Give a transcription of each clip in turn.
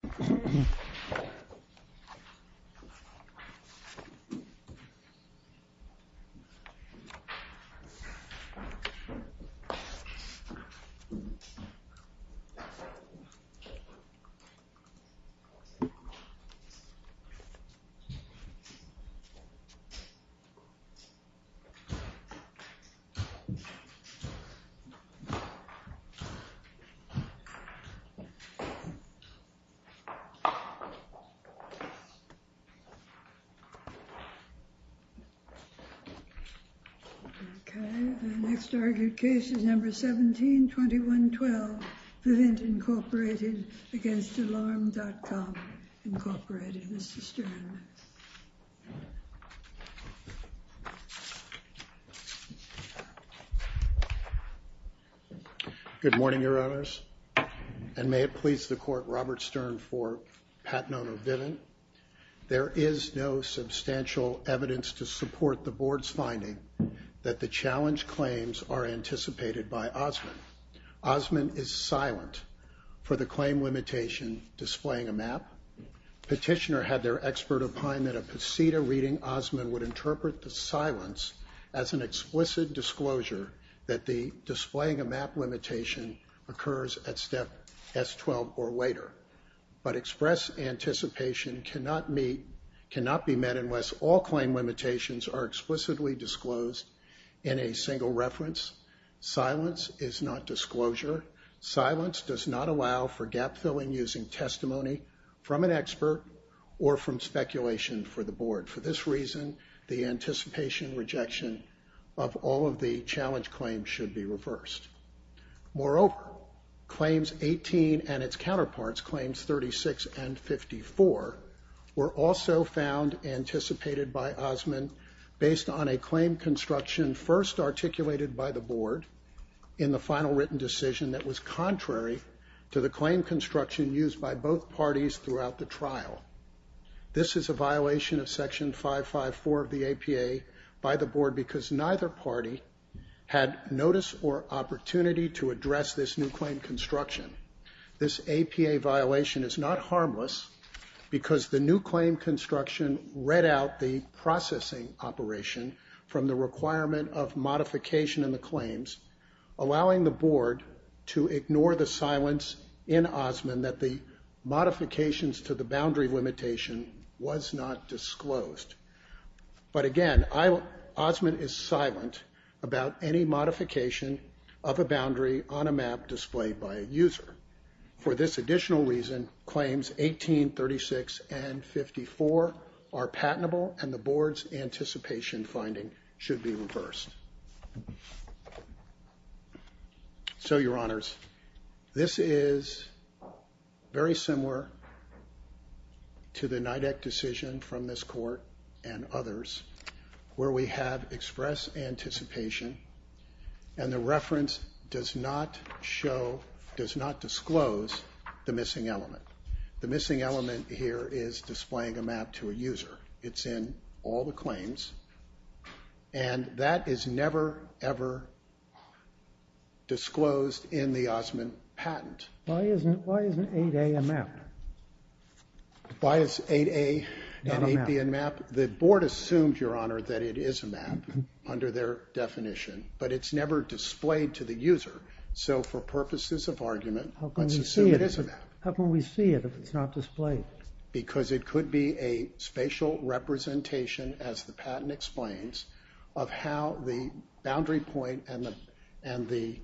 ** Alright, welcome everyone. Okay, the next argued case is number 172112, Vint Incorporated against Alarm.com, Incorporated. Mr. Stern. ** Good morning, your honors, and may it please the court, Robert Stern for Pat Nono-Vivin. There is no substantial evidence to support the board's finding that the challenge claims are anticipated by Osmond. Osmond is silent for the claim limitation displaying a map. Petitioner had their expert opine that a pasita reading Osmond would interpret the silence as an explicit disclosure that the displaying a map limitation occurs at step S12 or later. But express anticipation cannot meet, cannot be met unless all claim limitations are explicitly disclosed in a single reference. Silence is not disclosure. Silence does not allow for gap filling using testimony from an expert or from speculation for the board. For this reason, the anticipation rejection of all of the challenge claims should be reversed. Moreover, claims 18 and its counterparts, claims 36 and 54, were also found anticipated by Osmond based on a claim construction first articulated by the board in the final written decision that was contrary to the claim construction used by both parties throughout the trial. This is a violation of section 554 of the APA by the board because neither party had notice or opportunity to address this new claim construction. This APA violation is not harmless because the new claim construction read out the processing operation from the requirement of modification in the claims, allowing the board to ignore the silence in Osmond that the modifications to the boundary limitation was not disclosed. But again, Osmond is silent about any modification of a boundary on a map displayed by a user. For this additional reason, claims 18, 36, and 54 are patentable and the board's anticipation finding should be reversed. So your honors, this is very similar to the NIDAC decision from this court and others where we have express anticipation and the reference does not show, does not disclose the missing element. The missing element here is displaying a map to a user. It's in all the claims and that is never, ever disclosed in the Osmond patent. Why isn't 8A a map? Why is 8A and 8B a map? The board assumed, your honor, that it is a map under their definition, but it's never displayed to the user. So for purposes of argument, let's assume it is a map. How can we see it if it's not displayed? Because it could be a spatial representation, as the patent explains, of how the boundary point and the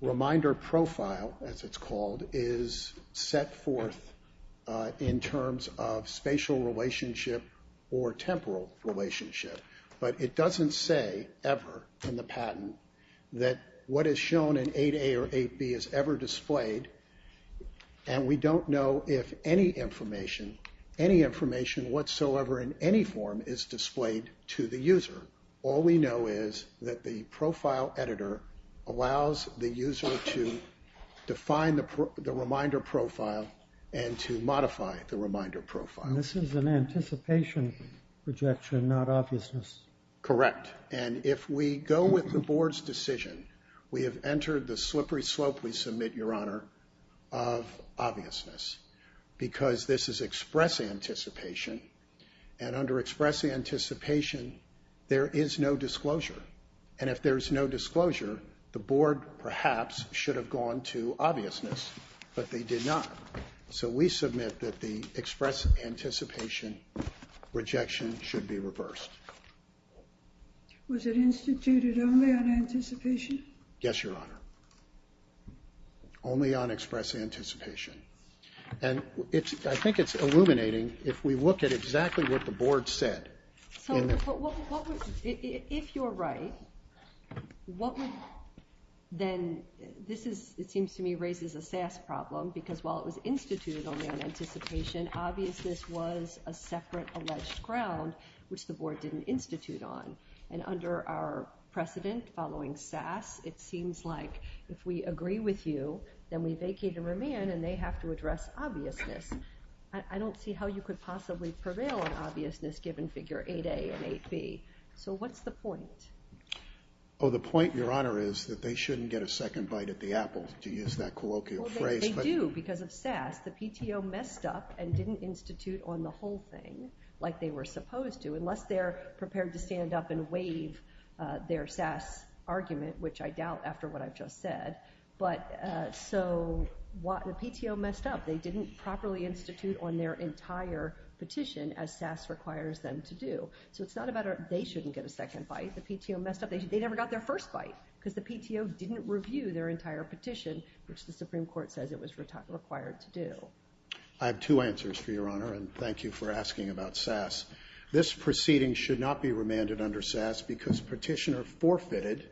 reminder profile, as it's called, is set forth in terms of spatial relationship or temporal relationship. But it doesn't say ever in the patent that what is shown in 8A or 8B is ever displayed and we don't know if any information, any information whatsoever in any form is displayed to the user. All we know is that the profile editor allows the user to define the reminder profile and to modify the reminder profile. This is an anticipation projection, not obviousness. Correct. And if we go with the board's decision, we have entered the slippery slope, we submit, your honor, of obviousness. Because this is express anticipation, and under express anticipation, there is no disclosure. And if there is no disclosure, the board, perhaps, should have gone to obviousness, but they did not. So we submit that the express anticipation rejection should be reversed. Was it instituted only on anticipation? Yes, your honor. Only on express anticipation. And I think it's illuminating if we look at exactly what the board said. So, if you're right, what would, then, this is, it seems to me, raises a SAS problem, because while it was instituted only on anticipation, obviousness was a separate alleged ground, which the board didn't institute on. And under our precedent, following SAS, it seems like, if we agree with you, then we vacate and remand, and they have to address obviousness. I don't see how you could possibly prevail on obviousness, given figure 8A and 8B. So what's the point? Oh, the point, your honor, is that they shouldn't get a second bite at the apple, to use that colloquial phrase. Well, they do, because of SAS. The PTO messed up and didn't institute on the whole thing, like they were supposed to, to come up and waive their SAS argument, which I doubt, after what I've just said. But, so, the PTO messed up. They didn't properly institute on their entire petition, as SAS requires them to do. So it's not about, they shouldn't get a second bite. The PTO messed up. They never got their first bite, because the PTO didn't review their entire petition, which the Supreme Court says it was required to do. I have two answers for your honor, and thank you for asking about SAS. This proceeding should not be remanded under SAS, because petitioner forfeited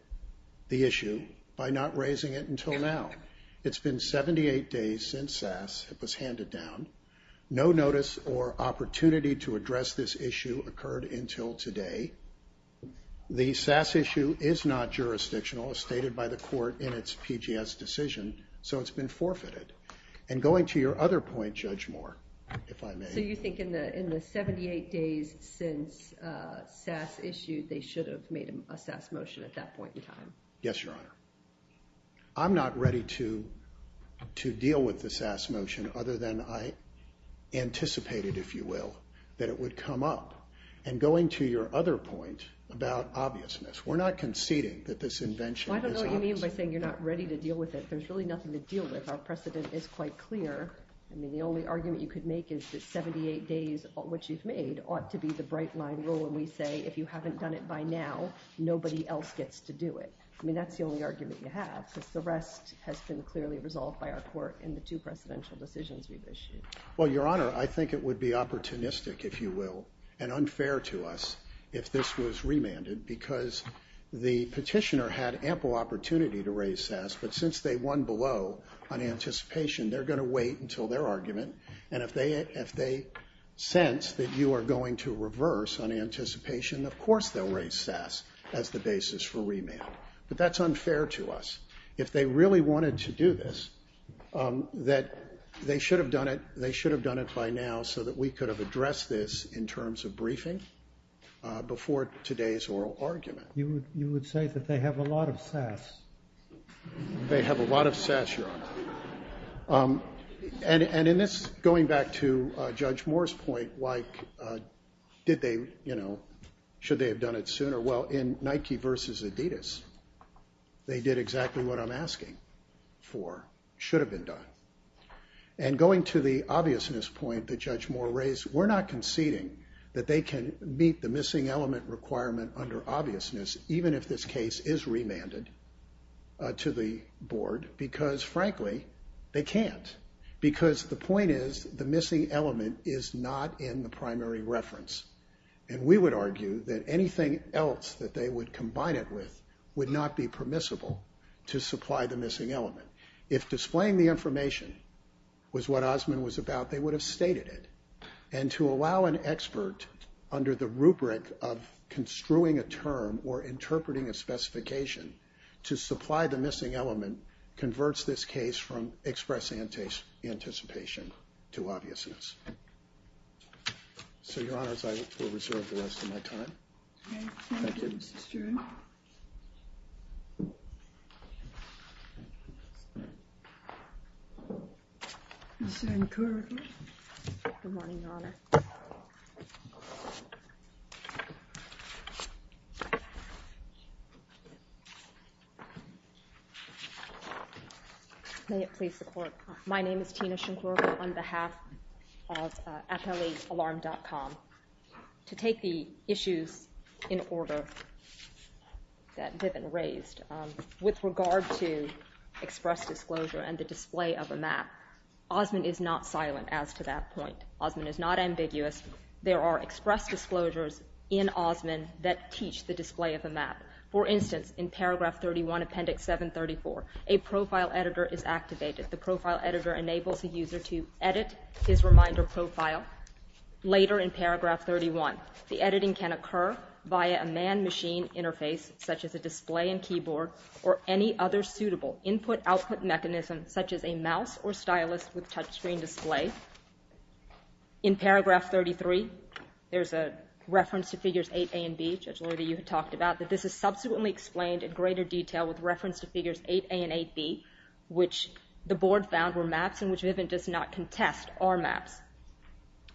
the issue by not raising it until now. It's been 78 days since SAS was handed down. No notice or opportunity to address this issue occurred until today. The SAS issue is not jurisdictional, as stated by the court in its PGS decision, so it's been forfeited. And going to your other point, Judge Moore, if I may. So you think in the 78 days since SAS issued, they should have made a SAS motion at that point in time? Yes, your honor. I'm not ready to deal with the SAS motion, other than I anticipated, if you will, that it would come up. And going to your other point about obviousness, we're not conceding that this invention is obvious. Well, I don't know what you mean by saying you're not ready to deal with it. There's really nothing to deal with. Our precedent is quite clear. I mean, the only argument you could make is that 78 days, which you've made, ought to be the bright line rule, and we say if you haven't done it by now, nobody else gets to do it. I mean, that's the only argument you have, because the rest has been clearly resolved by our court in the two precedential decisions we've issued. Well, your honor, I think it would be opportunistic, if you will, and unfair to us if this was remanded, because the petitioner had ample opportunity to raise SAS, but since they won below on anticipation, they're going to wait until their argument, and if they sense that you are going to reverse on anticipation, of course they'll raise SAS as the basis for remand. But that's unfair to us. If they really wanted to do this, they should have done it by now, so that we could have addressed this in terms of briefing before today's oral argument. You would say that they have a lot of SAS. They have a lot of SAS, your honor. And in this, going back to Judge Moore's point, like, did they, you know, should they have done it sooner? Well, in Nike versus Adidas, they did exactly what I'm asking for, should have been done. And going to the obviousness point that Judge Moore raised, we're not conceding that they can meet the missing element requirement under obviousness, even if this case is remanded to the board, because, frankly, they can't. Because the point is, the missing element is not in the primary reference. And we would argue that anything else that they would combine it with would not be permissible to supply the missing element. If displaying the information was what Osmond was about, they would have stated it. And to allow an expert under the rubric of construing a term or interpreting a specification to supply the missing element converts this case from express anticipation to obviousness. So, your honors, I will reserve the rest of my time. Thank you, Mrs. Jarrell. Ms. Shinkoraka. Good morning, your honor. May it please the court. My name is Tina Shinkoraka on behalf of FLAalarm.com. To take the issues in order that Vivian raised, with regard to express disclosure and the display of a map, Osmond is not silent as to that point. Osmond is not ambiguous. There are express disclosures in Osmond that teach the display of a map. For instance, in paragraph 31, appendix 734, a profile editor is activated. The profile editor enables the user to edit his reminder profile. Later in paragraph 31, the editing can occur via a man-machine interface, such as a display and keyboard, or any other suitable input-output mechanism, such as a mouse or stylus with touchscreen display. In paragraph 33, there's a reference to figures 8A and B. Judge Lloydy, you had talked about that this is subsequently explained in greater detail with reference to figures 8A and 8B, which the board found were maps and which Vivian does not contest are maps.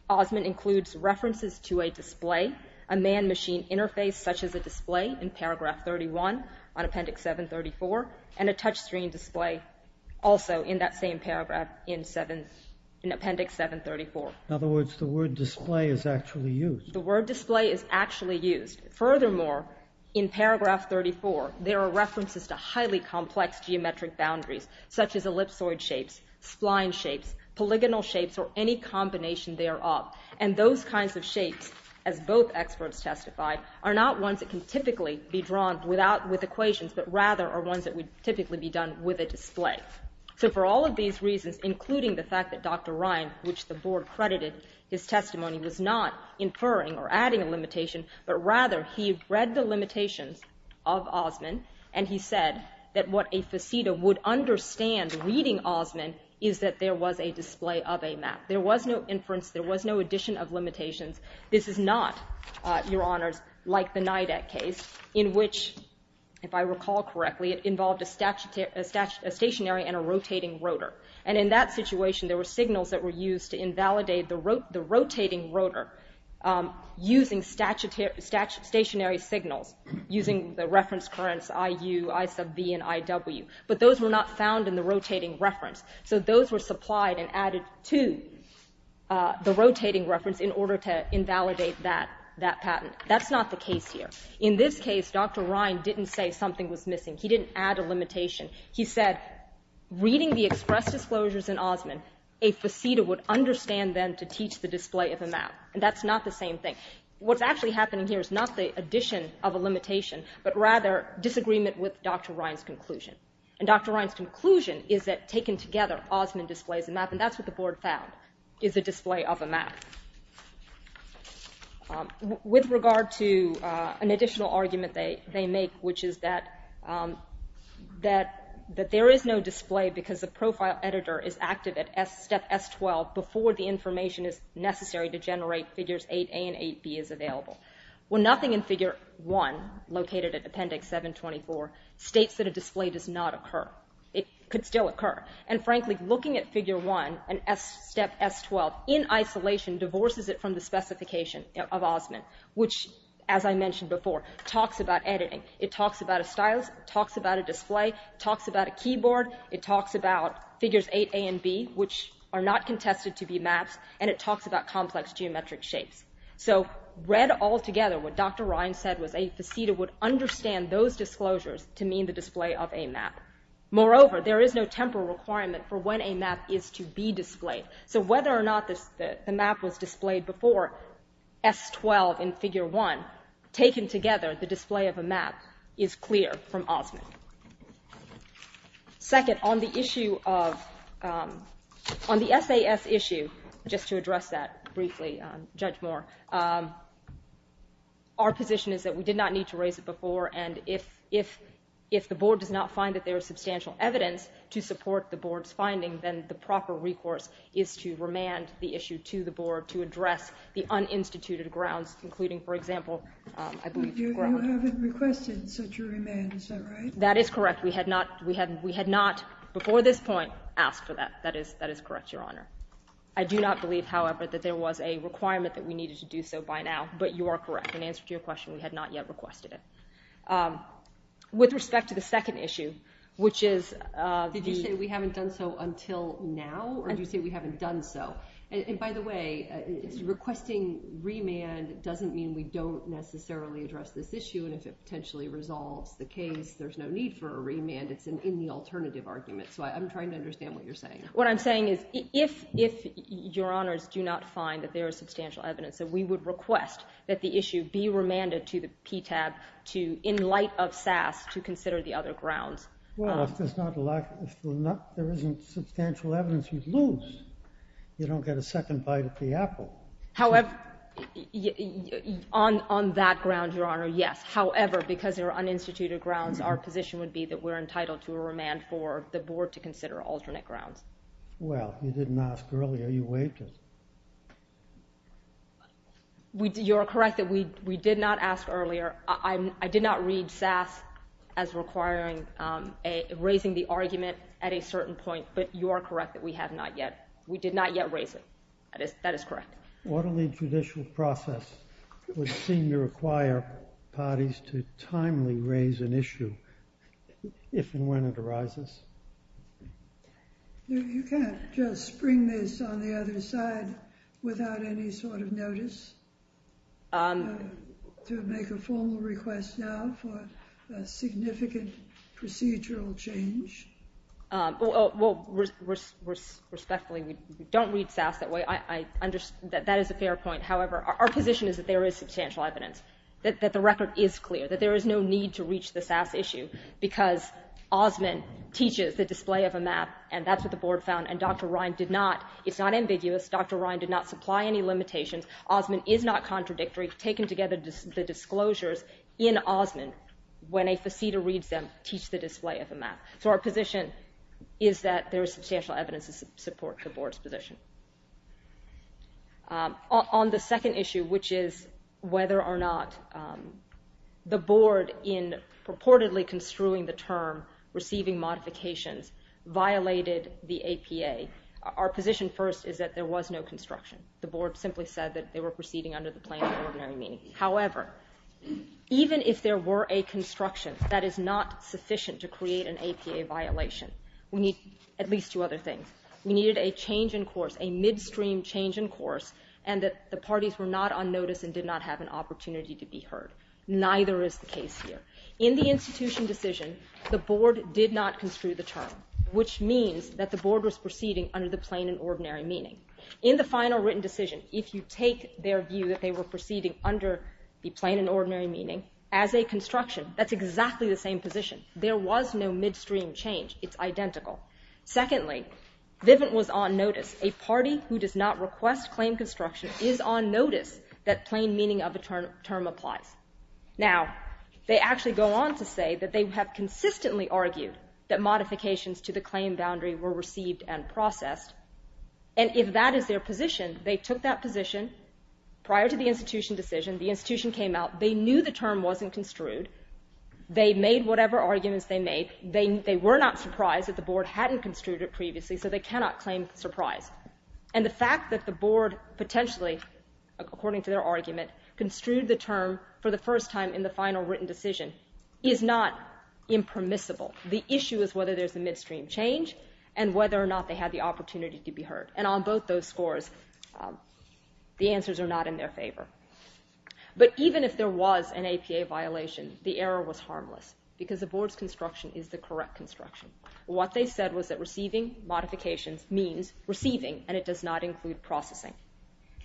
Osmond includes references to a display, a man-machine interface such as a display in paragraph 31 on appendix 734, and a touchscreen display also in that same paragraph in appendix 734. In other words, the word display is actually used. The word display is actually used. Furthermore, in paragraph 34, there are references to highly complex geometric boundaries, such as ellipsoid shapes, spline shapes, polygonal shapes, or any combination thereof. And those kinds of shapes, as both experts testify, are not ones that can typically be drawn with equations, but rather are ones that would typically be done with a display. So for all of these reasons, including the fact that Dr. Ryan, which the board credited his testimony, was not inferring or adding a limitation, but rather he read the limitations of Osmond and he said that what a faceta would understand reading Osmond is that there was a display of a map. There was no inference. There was no addition of limitations. This is not, Your Honors, like the NIDAC case in which, if I recall correctly, it involved a stationary and a rotating rotor. And in that situation, there were signals that were used to invalidate the rotating rotor using stationary signals, using the reference currents Iu, I sub v, and Iw. But those were not found in the rotating reference. So those were supplied and added to the rotating reference in order to invalidate that patent. That's not the case here. In this case, Dr. Ryan didn't say something was missing. He didn't add a limitation. He said reading the express disclosures in Osmond, a faceta would understand then to teach the display of a map. And that's not the same thing. What's actually happening here is not the addition of a limitation, but rather disagreement with Dr. Ryan's conclusion. And Dr. Ryan's conclusion is that taken together, Osmond displays a map, and that's what the board found is a display of a map. With regard to an additional argument they make, which is that there is no display because the profile editor is active at step S12 before the information is necessary to generate Figures 8a and 8b is available. Well, nothing in Figure 1, located at Appendix 724, states that a display does not occur. It could still occur. And, frankly, looking at Figure 1 at step S12 in isolation divorces it from the specification of Osmond, which, as I mentioned before, talks about editing. It talks about a stylus. It talks about a display. It talks about a keyboard. It talks about Figures 8a and 8b, which are not contested to be maps, and it talks about complex geometric shapes. So read all together, what Dr. Ryan said was a faceta would understand those disclosures to mean the display of a map. Moreover, there is no temporal requirement for when a map is to be displayed. So whether or not the map was displayed before S12 in Figure 1, taken together the display of a map is clear from Osmond. Second, on the issue of the SAS issue, just to address that briefly, Judge Moore, our position is that we did not need to raise it before, and if the Board does not find that there is substantial evidence to support the Board's finding, then the proper recourse is to remand the issue to the Board to address the uninstituted grounds, including, for example, I believe Grover. You haven't requested such a remand. Is that right? That is correct. We had not before this point asked for that. That is correct, Your Honor. I do not believe, however, that there was a requirement that we needed to do so by now, but you are correct. In answer to your question, we had not yet requested it. With respect to the second issue, which is the— Did you say we haven't done so until now, or did you say we haven't done so? And by the way, requesting remand doesn't mean we don't necessarily address this issue, and if it potentially resolves the case, there's no need for a remand. It's in the alternative argument, so I'm trying to understand what you're saying. What I'm saying is if Your Honors do not find that there is substantial evidence, then we would request that the issue be remanded to the PTAB in light of SAS to consider the other grounds. Well, if there isn't substantial evidence, you lose. You don't get a second bite at the apple. However, on that ground, Your Honor, yes. However, because there are uninstituted grounds, our position would be that we're entitled to a remand for the board to consider alternate grounds. Well, you didn't ask earlier. You waived it. You are correct that we did not ask earlier. I did not read SAS as requiring raising the argument at a certain point, but you are correct that we have not yet. We did not yet raise it. That is correct. Orderly judicial process would seem to require parties to timely raise an issue if and when it arises. You can't just spring this on the other side without any sort of notice to make a formal request now for a significant procedural change. Well, respectfully, we don't read SAS that way. That is a fair point. However, our position is that there is substantial evidence, that the record is clear, that there is no need to reach the SAS issue because Osman teaches the display of a map, and that's what the board found, and Dr. Ryan did not. It's not ambiguous. Dr. Ryan did not supply any limitations. Osman is not contradictory. Taken together, the disclosures in Osman, when a facetor reads them, teach the display of a map. So our position is that there is substantial evidence to support the board's position. On the second issue, which is whether or not the board, in purportedly construing the term receiving modifications, violated the APA, our position first is that there was no construction. The board simply said that they were proceeding under the plan of ordinary meaning. However, even if there were a construction, that is not sufficient to create an APA violation. We need at least two other things. We needed a change in course, a midstream change in course, and that the parties were not on notice and did not have an opportunity to be heard. Neither is the case here. In the institution decision, the board did not construe the term, which means that the board was proceeding under the plan of ordinary meaning. In the final written decision, if you take their view that they were proceeding under the plan of ordinary meaning, as a construction, that's exactly the same position. There was no midstream change. It's identical. Secondly, Vivint was on notice. A party who does not request claim construction is on notice that plain meaning of a term applies. Now, they actually go on to say that they have consistently argued that modifications to the claim boundary were received and processed, and if that is their position, they took that position. Prior to the institution decision, the institution came out. They knew the term wasn't construed. They made whatever arguments they made. They were not surprised that the board hadn't construed it previously, so they cannot claim surprise. And the fact that the board potentially, according to their argument, construed the term for the first time in the final written decision is not impermissible. The issue is whether there's a midstream change and whether or not they had the opportunity to be heard. And on both those scores, the answers are not in their favor. But even if there was an APA violation, the error was harmless because the board's construction is the correct construction. What they said was that receiving modifications means receiving, and it does not include processing.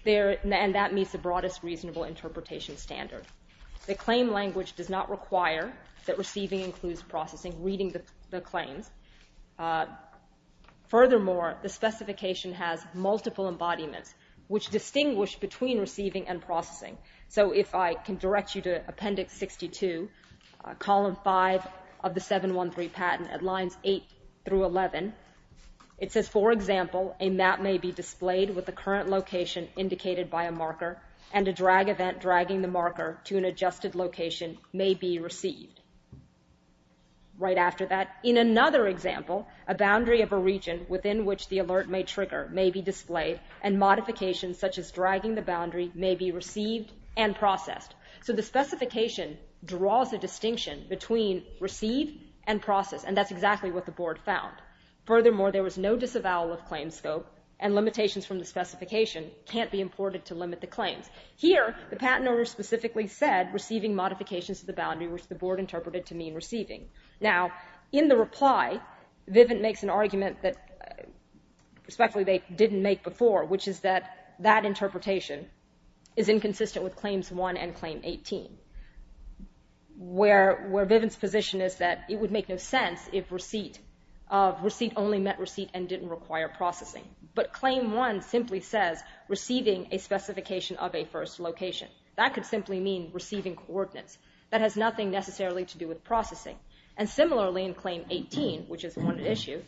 And that meets the broadest reasonable interpretation standard. The claim language does not require that receiving includes processing, reading the claims. Furthermore, the specification has multiple embodiments, which distinguish between receiving and processing. So if I can direct you to Appendix 62, column 5 of the 713 patent at lines 8 through 11, it says, for example, a map may be displayed with the current location indicated by a marker and a drag event dragging the marker to an adjusted location may be received. Right after that, in another example, a boundary of a region within which the alert may trigger may be displayed and modifications such as dragging the boundary may be received and processed. So the specification draws a distinction between receive and process, and that's exactly what the board found. Furthermore, there was no disavowal of claim scope, and limitations from the specification can't be imported to limit the claims. Here, the patent owner specifically said receiving modifications to the boundary, which the board interpreted to mean receiving. Now, in the reply, Vivint makes an argument that, respectfully, they didn't make before, which is that that interpretation is inconsistent with Claims 1 and Claim 18, where Vivint's position is that it would make no sense if receipt only meant receipt and didn't require processing. But Claim 1 simply says receiving a specification of a first location. That could simply mean receiving coordinates. That has nothing necessarily to do with processing. And similarly, in Claim 18, which is one issue,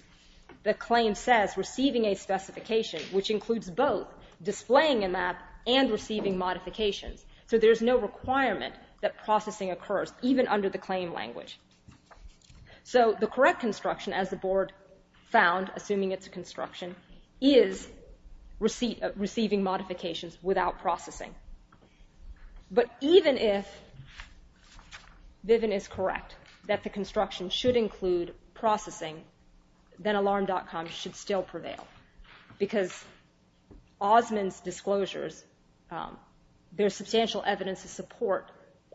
the claim says receiving a specification, which includes both displaying a map and receiving modifications. So there's no requirement that processing occurs, even under the claim language. So the correct construction, as the board found, assuming it's a construction, is receiving modifications without processing. But even if Vivint is correct that the construction should include processing, then Alarm.com should still prevail. Because Osmond's disclosures, there's substantial evidence to support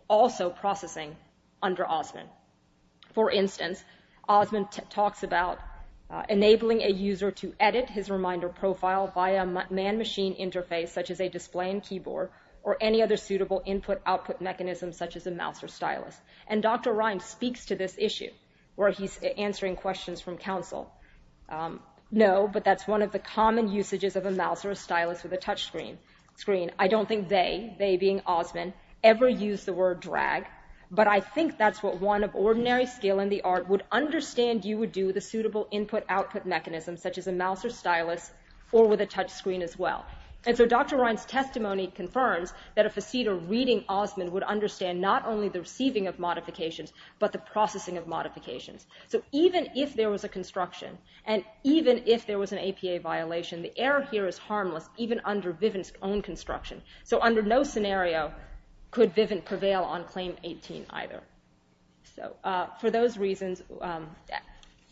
also processing under Osmond. For instance, Osmond talks about enabling a user to edit his reminder profile via a man-machine interface, such as a display and keyboard, or any other suitable input-output mechanism, such as a mouse or stylus. And Dr. Rind speaks to this issue, where he's answering questions from counsel. No, but that's one of the common usages of a mouse or a stylus with a touchscreen. I don't think they, they being Osmond, ever used the word drag, but I think that's what one of ordinary skill in the art would understand you would do with a suitable input-output mechanism, such as a mouse or stylus, or with a touchscreen as well. And so Dr. Rind's testimony confirms that if a cedar reading Osmond would understand not only the receiving of modifications, but the processing of modifications. So even if there was a construction, and even if there was an APA violation, the error here is harmless, even under Vivint's own construction. So under no scenario could Vivint prevail on Claim 18 either. So for those reasons,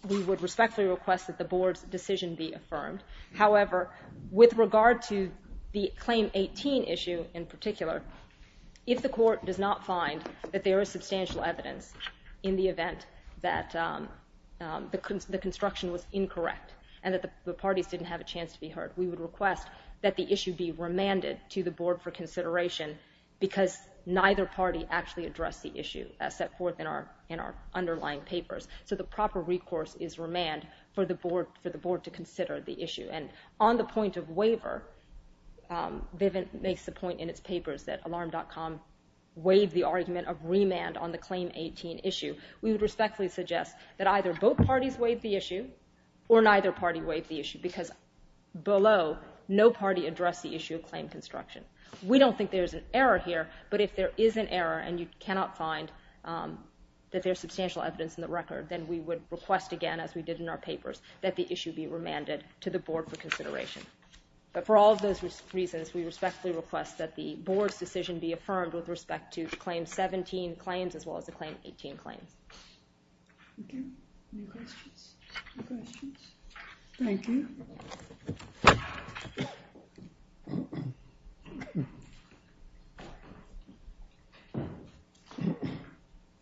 we would respectfully request that the Board's decision be affirmed. However, with regard to the Claim 18 issue in particular, if the Court does not find that there is substantial evidence in the event that the construction was incorrect and that the parties didn't have a chance to be heard, we would request that the issue be remanded to the Board for consideration because neither party actually addressed the issue as set forth in our underlying papers. So the proper recourse is remand for the Board to consider the issue. And on the point of waiver, Vivint makes the point in its papers that Alarm.com waived the argument of remand on the Claim 18 issue. We would respectfully suggest that either both parties waive the issue or neither party waive the issue because below, no party addressed the issue of claim construction. We don't think there is an error here, but if there is an error and you cannot find that there is substantial evidence in the record, then we would request again, as we did in our papers, that the issue be remanded to the Board for consideration. But for all of those reasons, we respectfully request that the Board's decision be affirmed with respect to the Claim 17 claims as well as the Claim 18 claims. Thank you. Any questions? No questions. Thank you.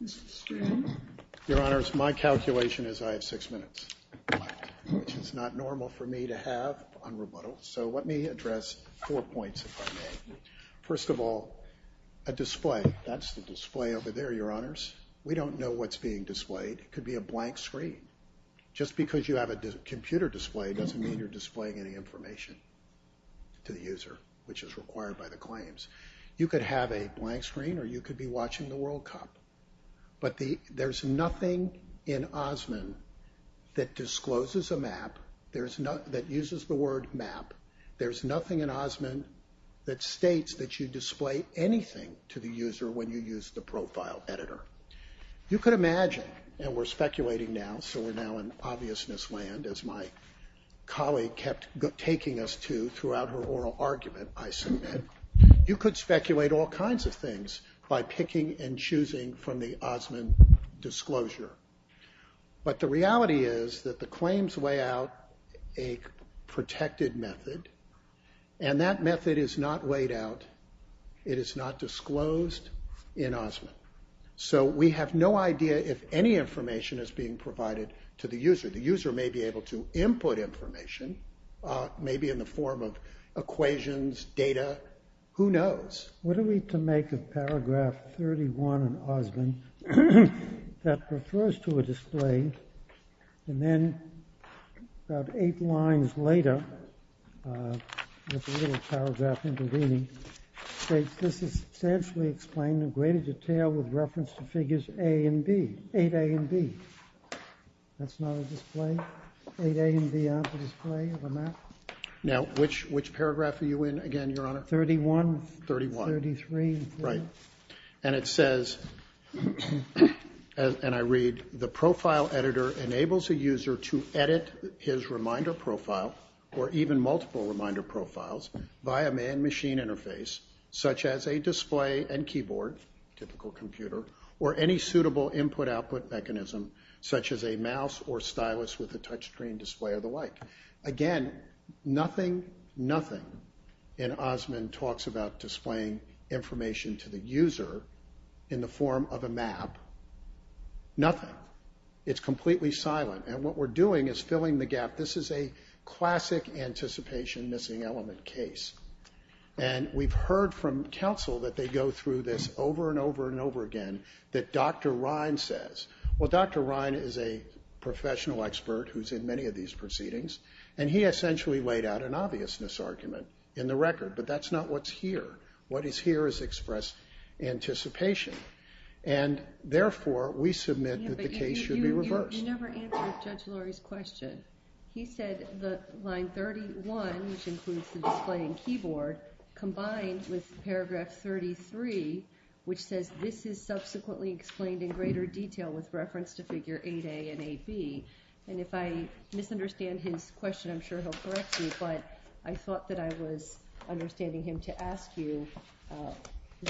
Mr. Stern? Your Honors, my calculation is I have six minutes left, which is not normal for me to have on rebuttal. So let me address four points, if I may. First of all, a display. That's the display over there, Your Honors. We don't know what's being displayed. It could be a blank screen. Just because you have a computer display doesn't mean you're displaying any information to the user, which is required by the claims. You could have a blank screen or you could be watching the World Cup. But there's nothing in Osman that discloses a map, that uses the word map. There's nothing in Osman that states that you display anything to the user when you use the profile editor. You could imagine, and we're speculating now, so we're now in obviousness land, as my colleague kept taking us to throughout her oral argument, I submit, you could speculate all kinds of things by picking and choosing from the Osman disclosure. But the reality is that the claims lay out a protected method, and that method is not laid out. It is not disclosed in Osman. So we have no idea if any information is being provided to the user. The user may be able to input information, maybe in the form of equations, data, who knows? What are we to make of paragraph 31 in Osman that refers to a display and then about eight lines later, with a little paragraph intervening, states this is essentially explaining in greater detail with reference to figures A and B, 8A and B. That's not a display? 8A and B aren't a display of a map? Now which paragraph are you in again, Your Honor? 31. 31. 33. Right. And it says, and I read, the profile editor enables a user to edit his reminder profile or even multiple reminder profiles via man-machine interface, such as a display and keyboard, typical computer, or any suitable input-output mechanism, such as a mouse or stylus with a touch screen display or the like. Again, nothing, nothing in Osman talks about displaying information to the user in the form of a map. Nothing. It's completely silent, and what we're doing is filling the gap. This is a classic anticipation missing element case, and we've heard from counsel that they go through this over and over and over again, that Dr. Ryan says, well, Dr. Ryan is a professional expert who's in many of these proceedings, and he essentially laid out an obviousness argument in the record, but that's not what's here. What is here is expressed anticipation, and therefore we submit that the case should be reversed. But you never answered Judge Lori's question. He said that line 31, which includes the display and keyboard, combined with paragraph 33, which says this is subsequently explained in greater detail with reference to figure 8A and 8B. And if I misunderstand his question, I'm sure he'll correct me, but I thought that I was understanding him to ask you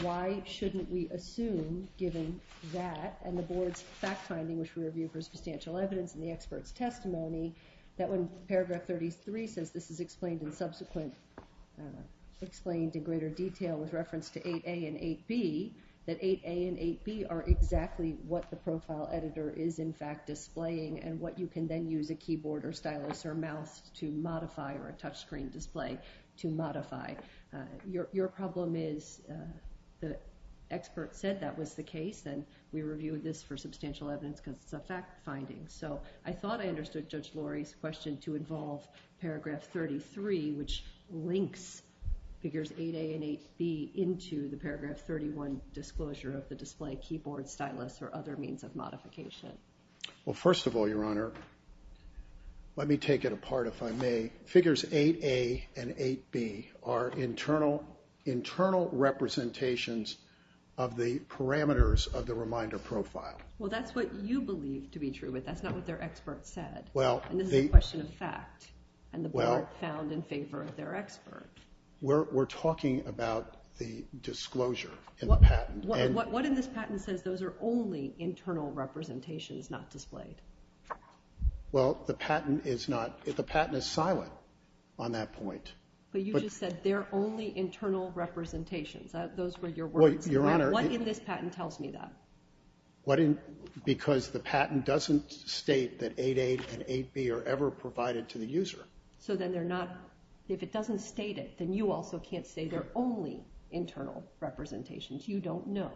why shouldn't we assume, given that, and the board's fact-finding, which we review for substantial evidence in the expert's testimony, that when paragraph 33 says this is explained in subsequent, explained in greater detail with reference to 8A and 8B, that 8A and 8B are exactly what the profile editor is in fact displaying and what you can then use a keyboard or stylus or mouse to modify or a touchscreen display to modify. Your problem is the expert said that was the case, and we reviewed this for substantial evidence because it's a fact-finding. So I thought I understood Judge Lori's question to involve paragraph 33, which links figures 8A and 8B into the paragraph 31 disclosure of the display, keyboard, stylus, or other means of modification. Well, first of all, Your Honor, let me take it apart, if I may. Figures 8A and 8B are internal representations of the parameters of the reminder profile. Well, that's what you believe to be true, but that's not what their expert said. And this is a question of fact, and the board found in favor of their expert. We're talking about the disclosure in the patent. What in this patent says those are only internal representations, not displayed? Well, the patent is not. The patent is silent on that point. But you just said they're only internal representations. Those were your words. What in this patent tells me that? Because the patent doesn't state that 8A and 8B are ever provided to the user. So then they're not. If it doesn't state it, then you also can't say they're only internal representations. You don't know.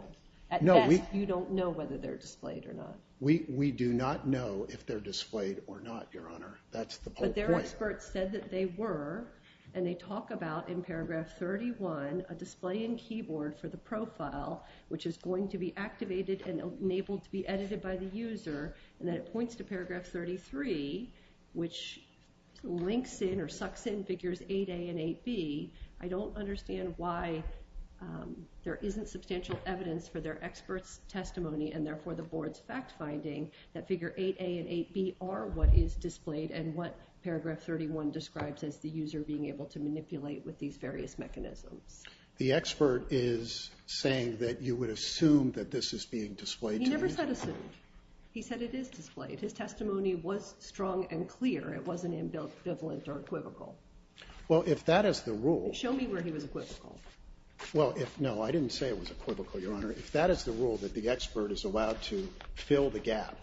At best, you don't know whether they're displayed or not. We do not know if they're displayed or not, Your Honor. That's the whole point. But their expert said that they were. And they talk about, in paragraph 31, a display in keyboard for the profile, which is going to be activated and enabled to be edited by the user, and then it points to paragraph 33, which links in or sucks in figures 8A and 8B. I don't understand why there isn't substantial evidence for their expert's testimony and therefore the board's fact-finding that figure 8A and 8B are what is displayed and what paragraph 31 describes as the user being able to manipulate with these various mechanisms. The expert is saying that you would assume that this is being displayed to the user. He never said assumed. He said it is displayed. His testimony was strong and clear. It wasn't ambivalent or equivocal. Well, if that is the rule. Show me where he was equivocal. Well, no, I didn't say it was equivocal, Your Honor. If that is the rule, that the expert is allowed to fill the gap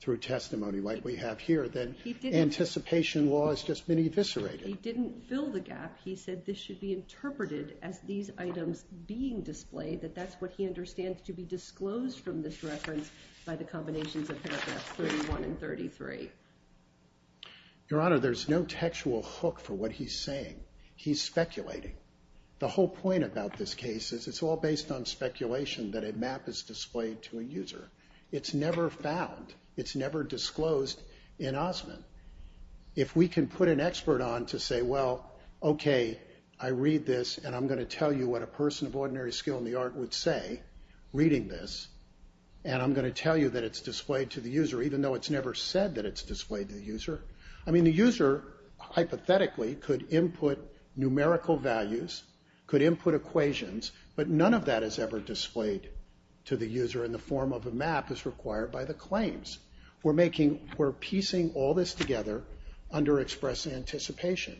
through testimony like we have here, then anticipation law has just been eviscerated. He didn't fill the gap. He said this should be interpreted as these items being displayed, that that's what he understands to be disclosed from this reference by the combinations of paragraphs 31 and 33. Your Honor, there's no textual hook for what he's saying. He's speculating. The whole point about this case is it's all based on speculation that a map is displayed to a user. It's never found. It's never disclosed in Osman. If we can put an expert on to say, well, okay, I read this, and I'm going to tell you what a person of ordinary skill in the art would say reading this, and I'm going to tell you that it's displayed to the user, even though it's never said that it's displayed to the user. I mean, the user hypothetically could input numerical values, could input equations, but none of that is ever displayed to the user in the form of a map as required by the claims. We're making, we're piecing all this together under express anticipation.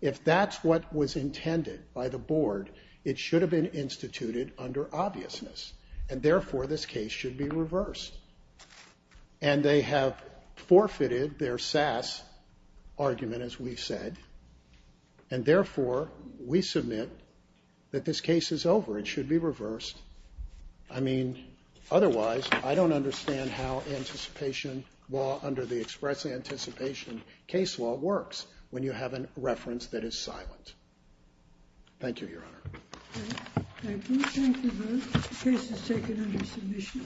If that's what was intended by the board, it should have been instituted under obviousness, and therefore this case should be reversed. And they have forfeited their SAS argument, as we've said, and therefore we submit that this case is over. It should be reversed. I mean, otherwise I don't understand how anticipation law under the express anticipation case law works when you have a reference that is silent. Thank you, Your Honor. Thank you. Thank you both. The case is taken under submission.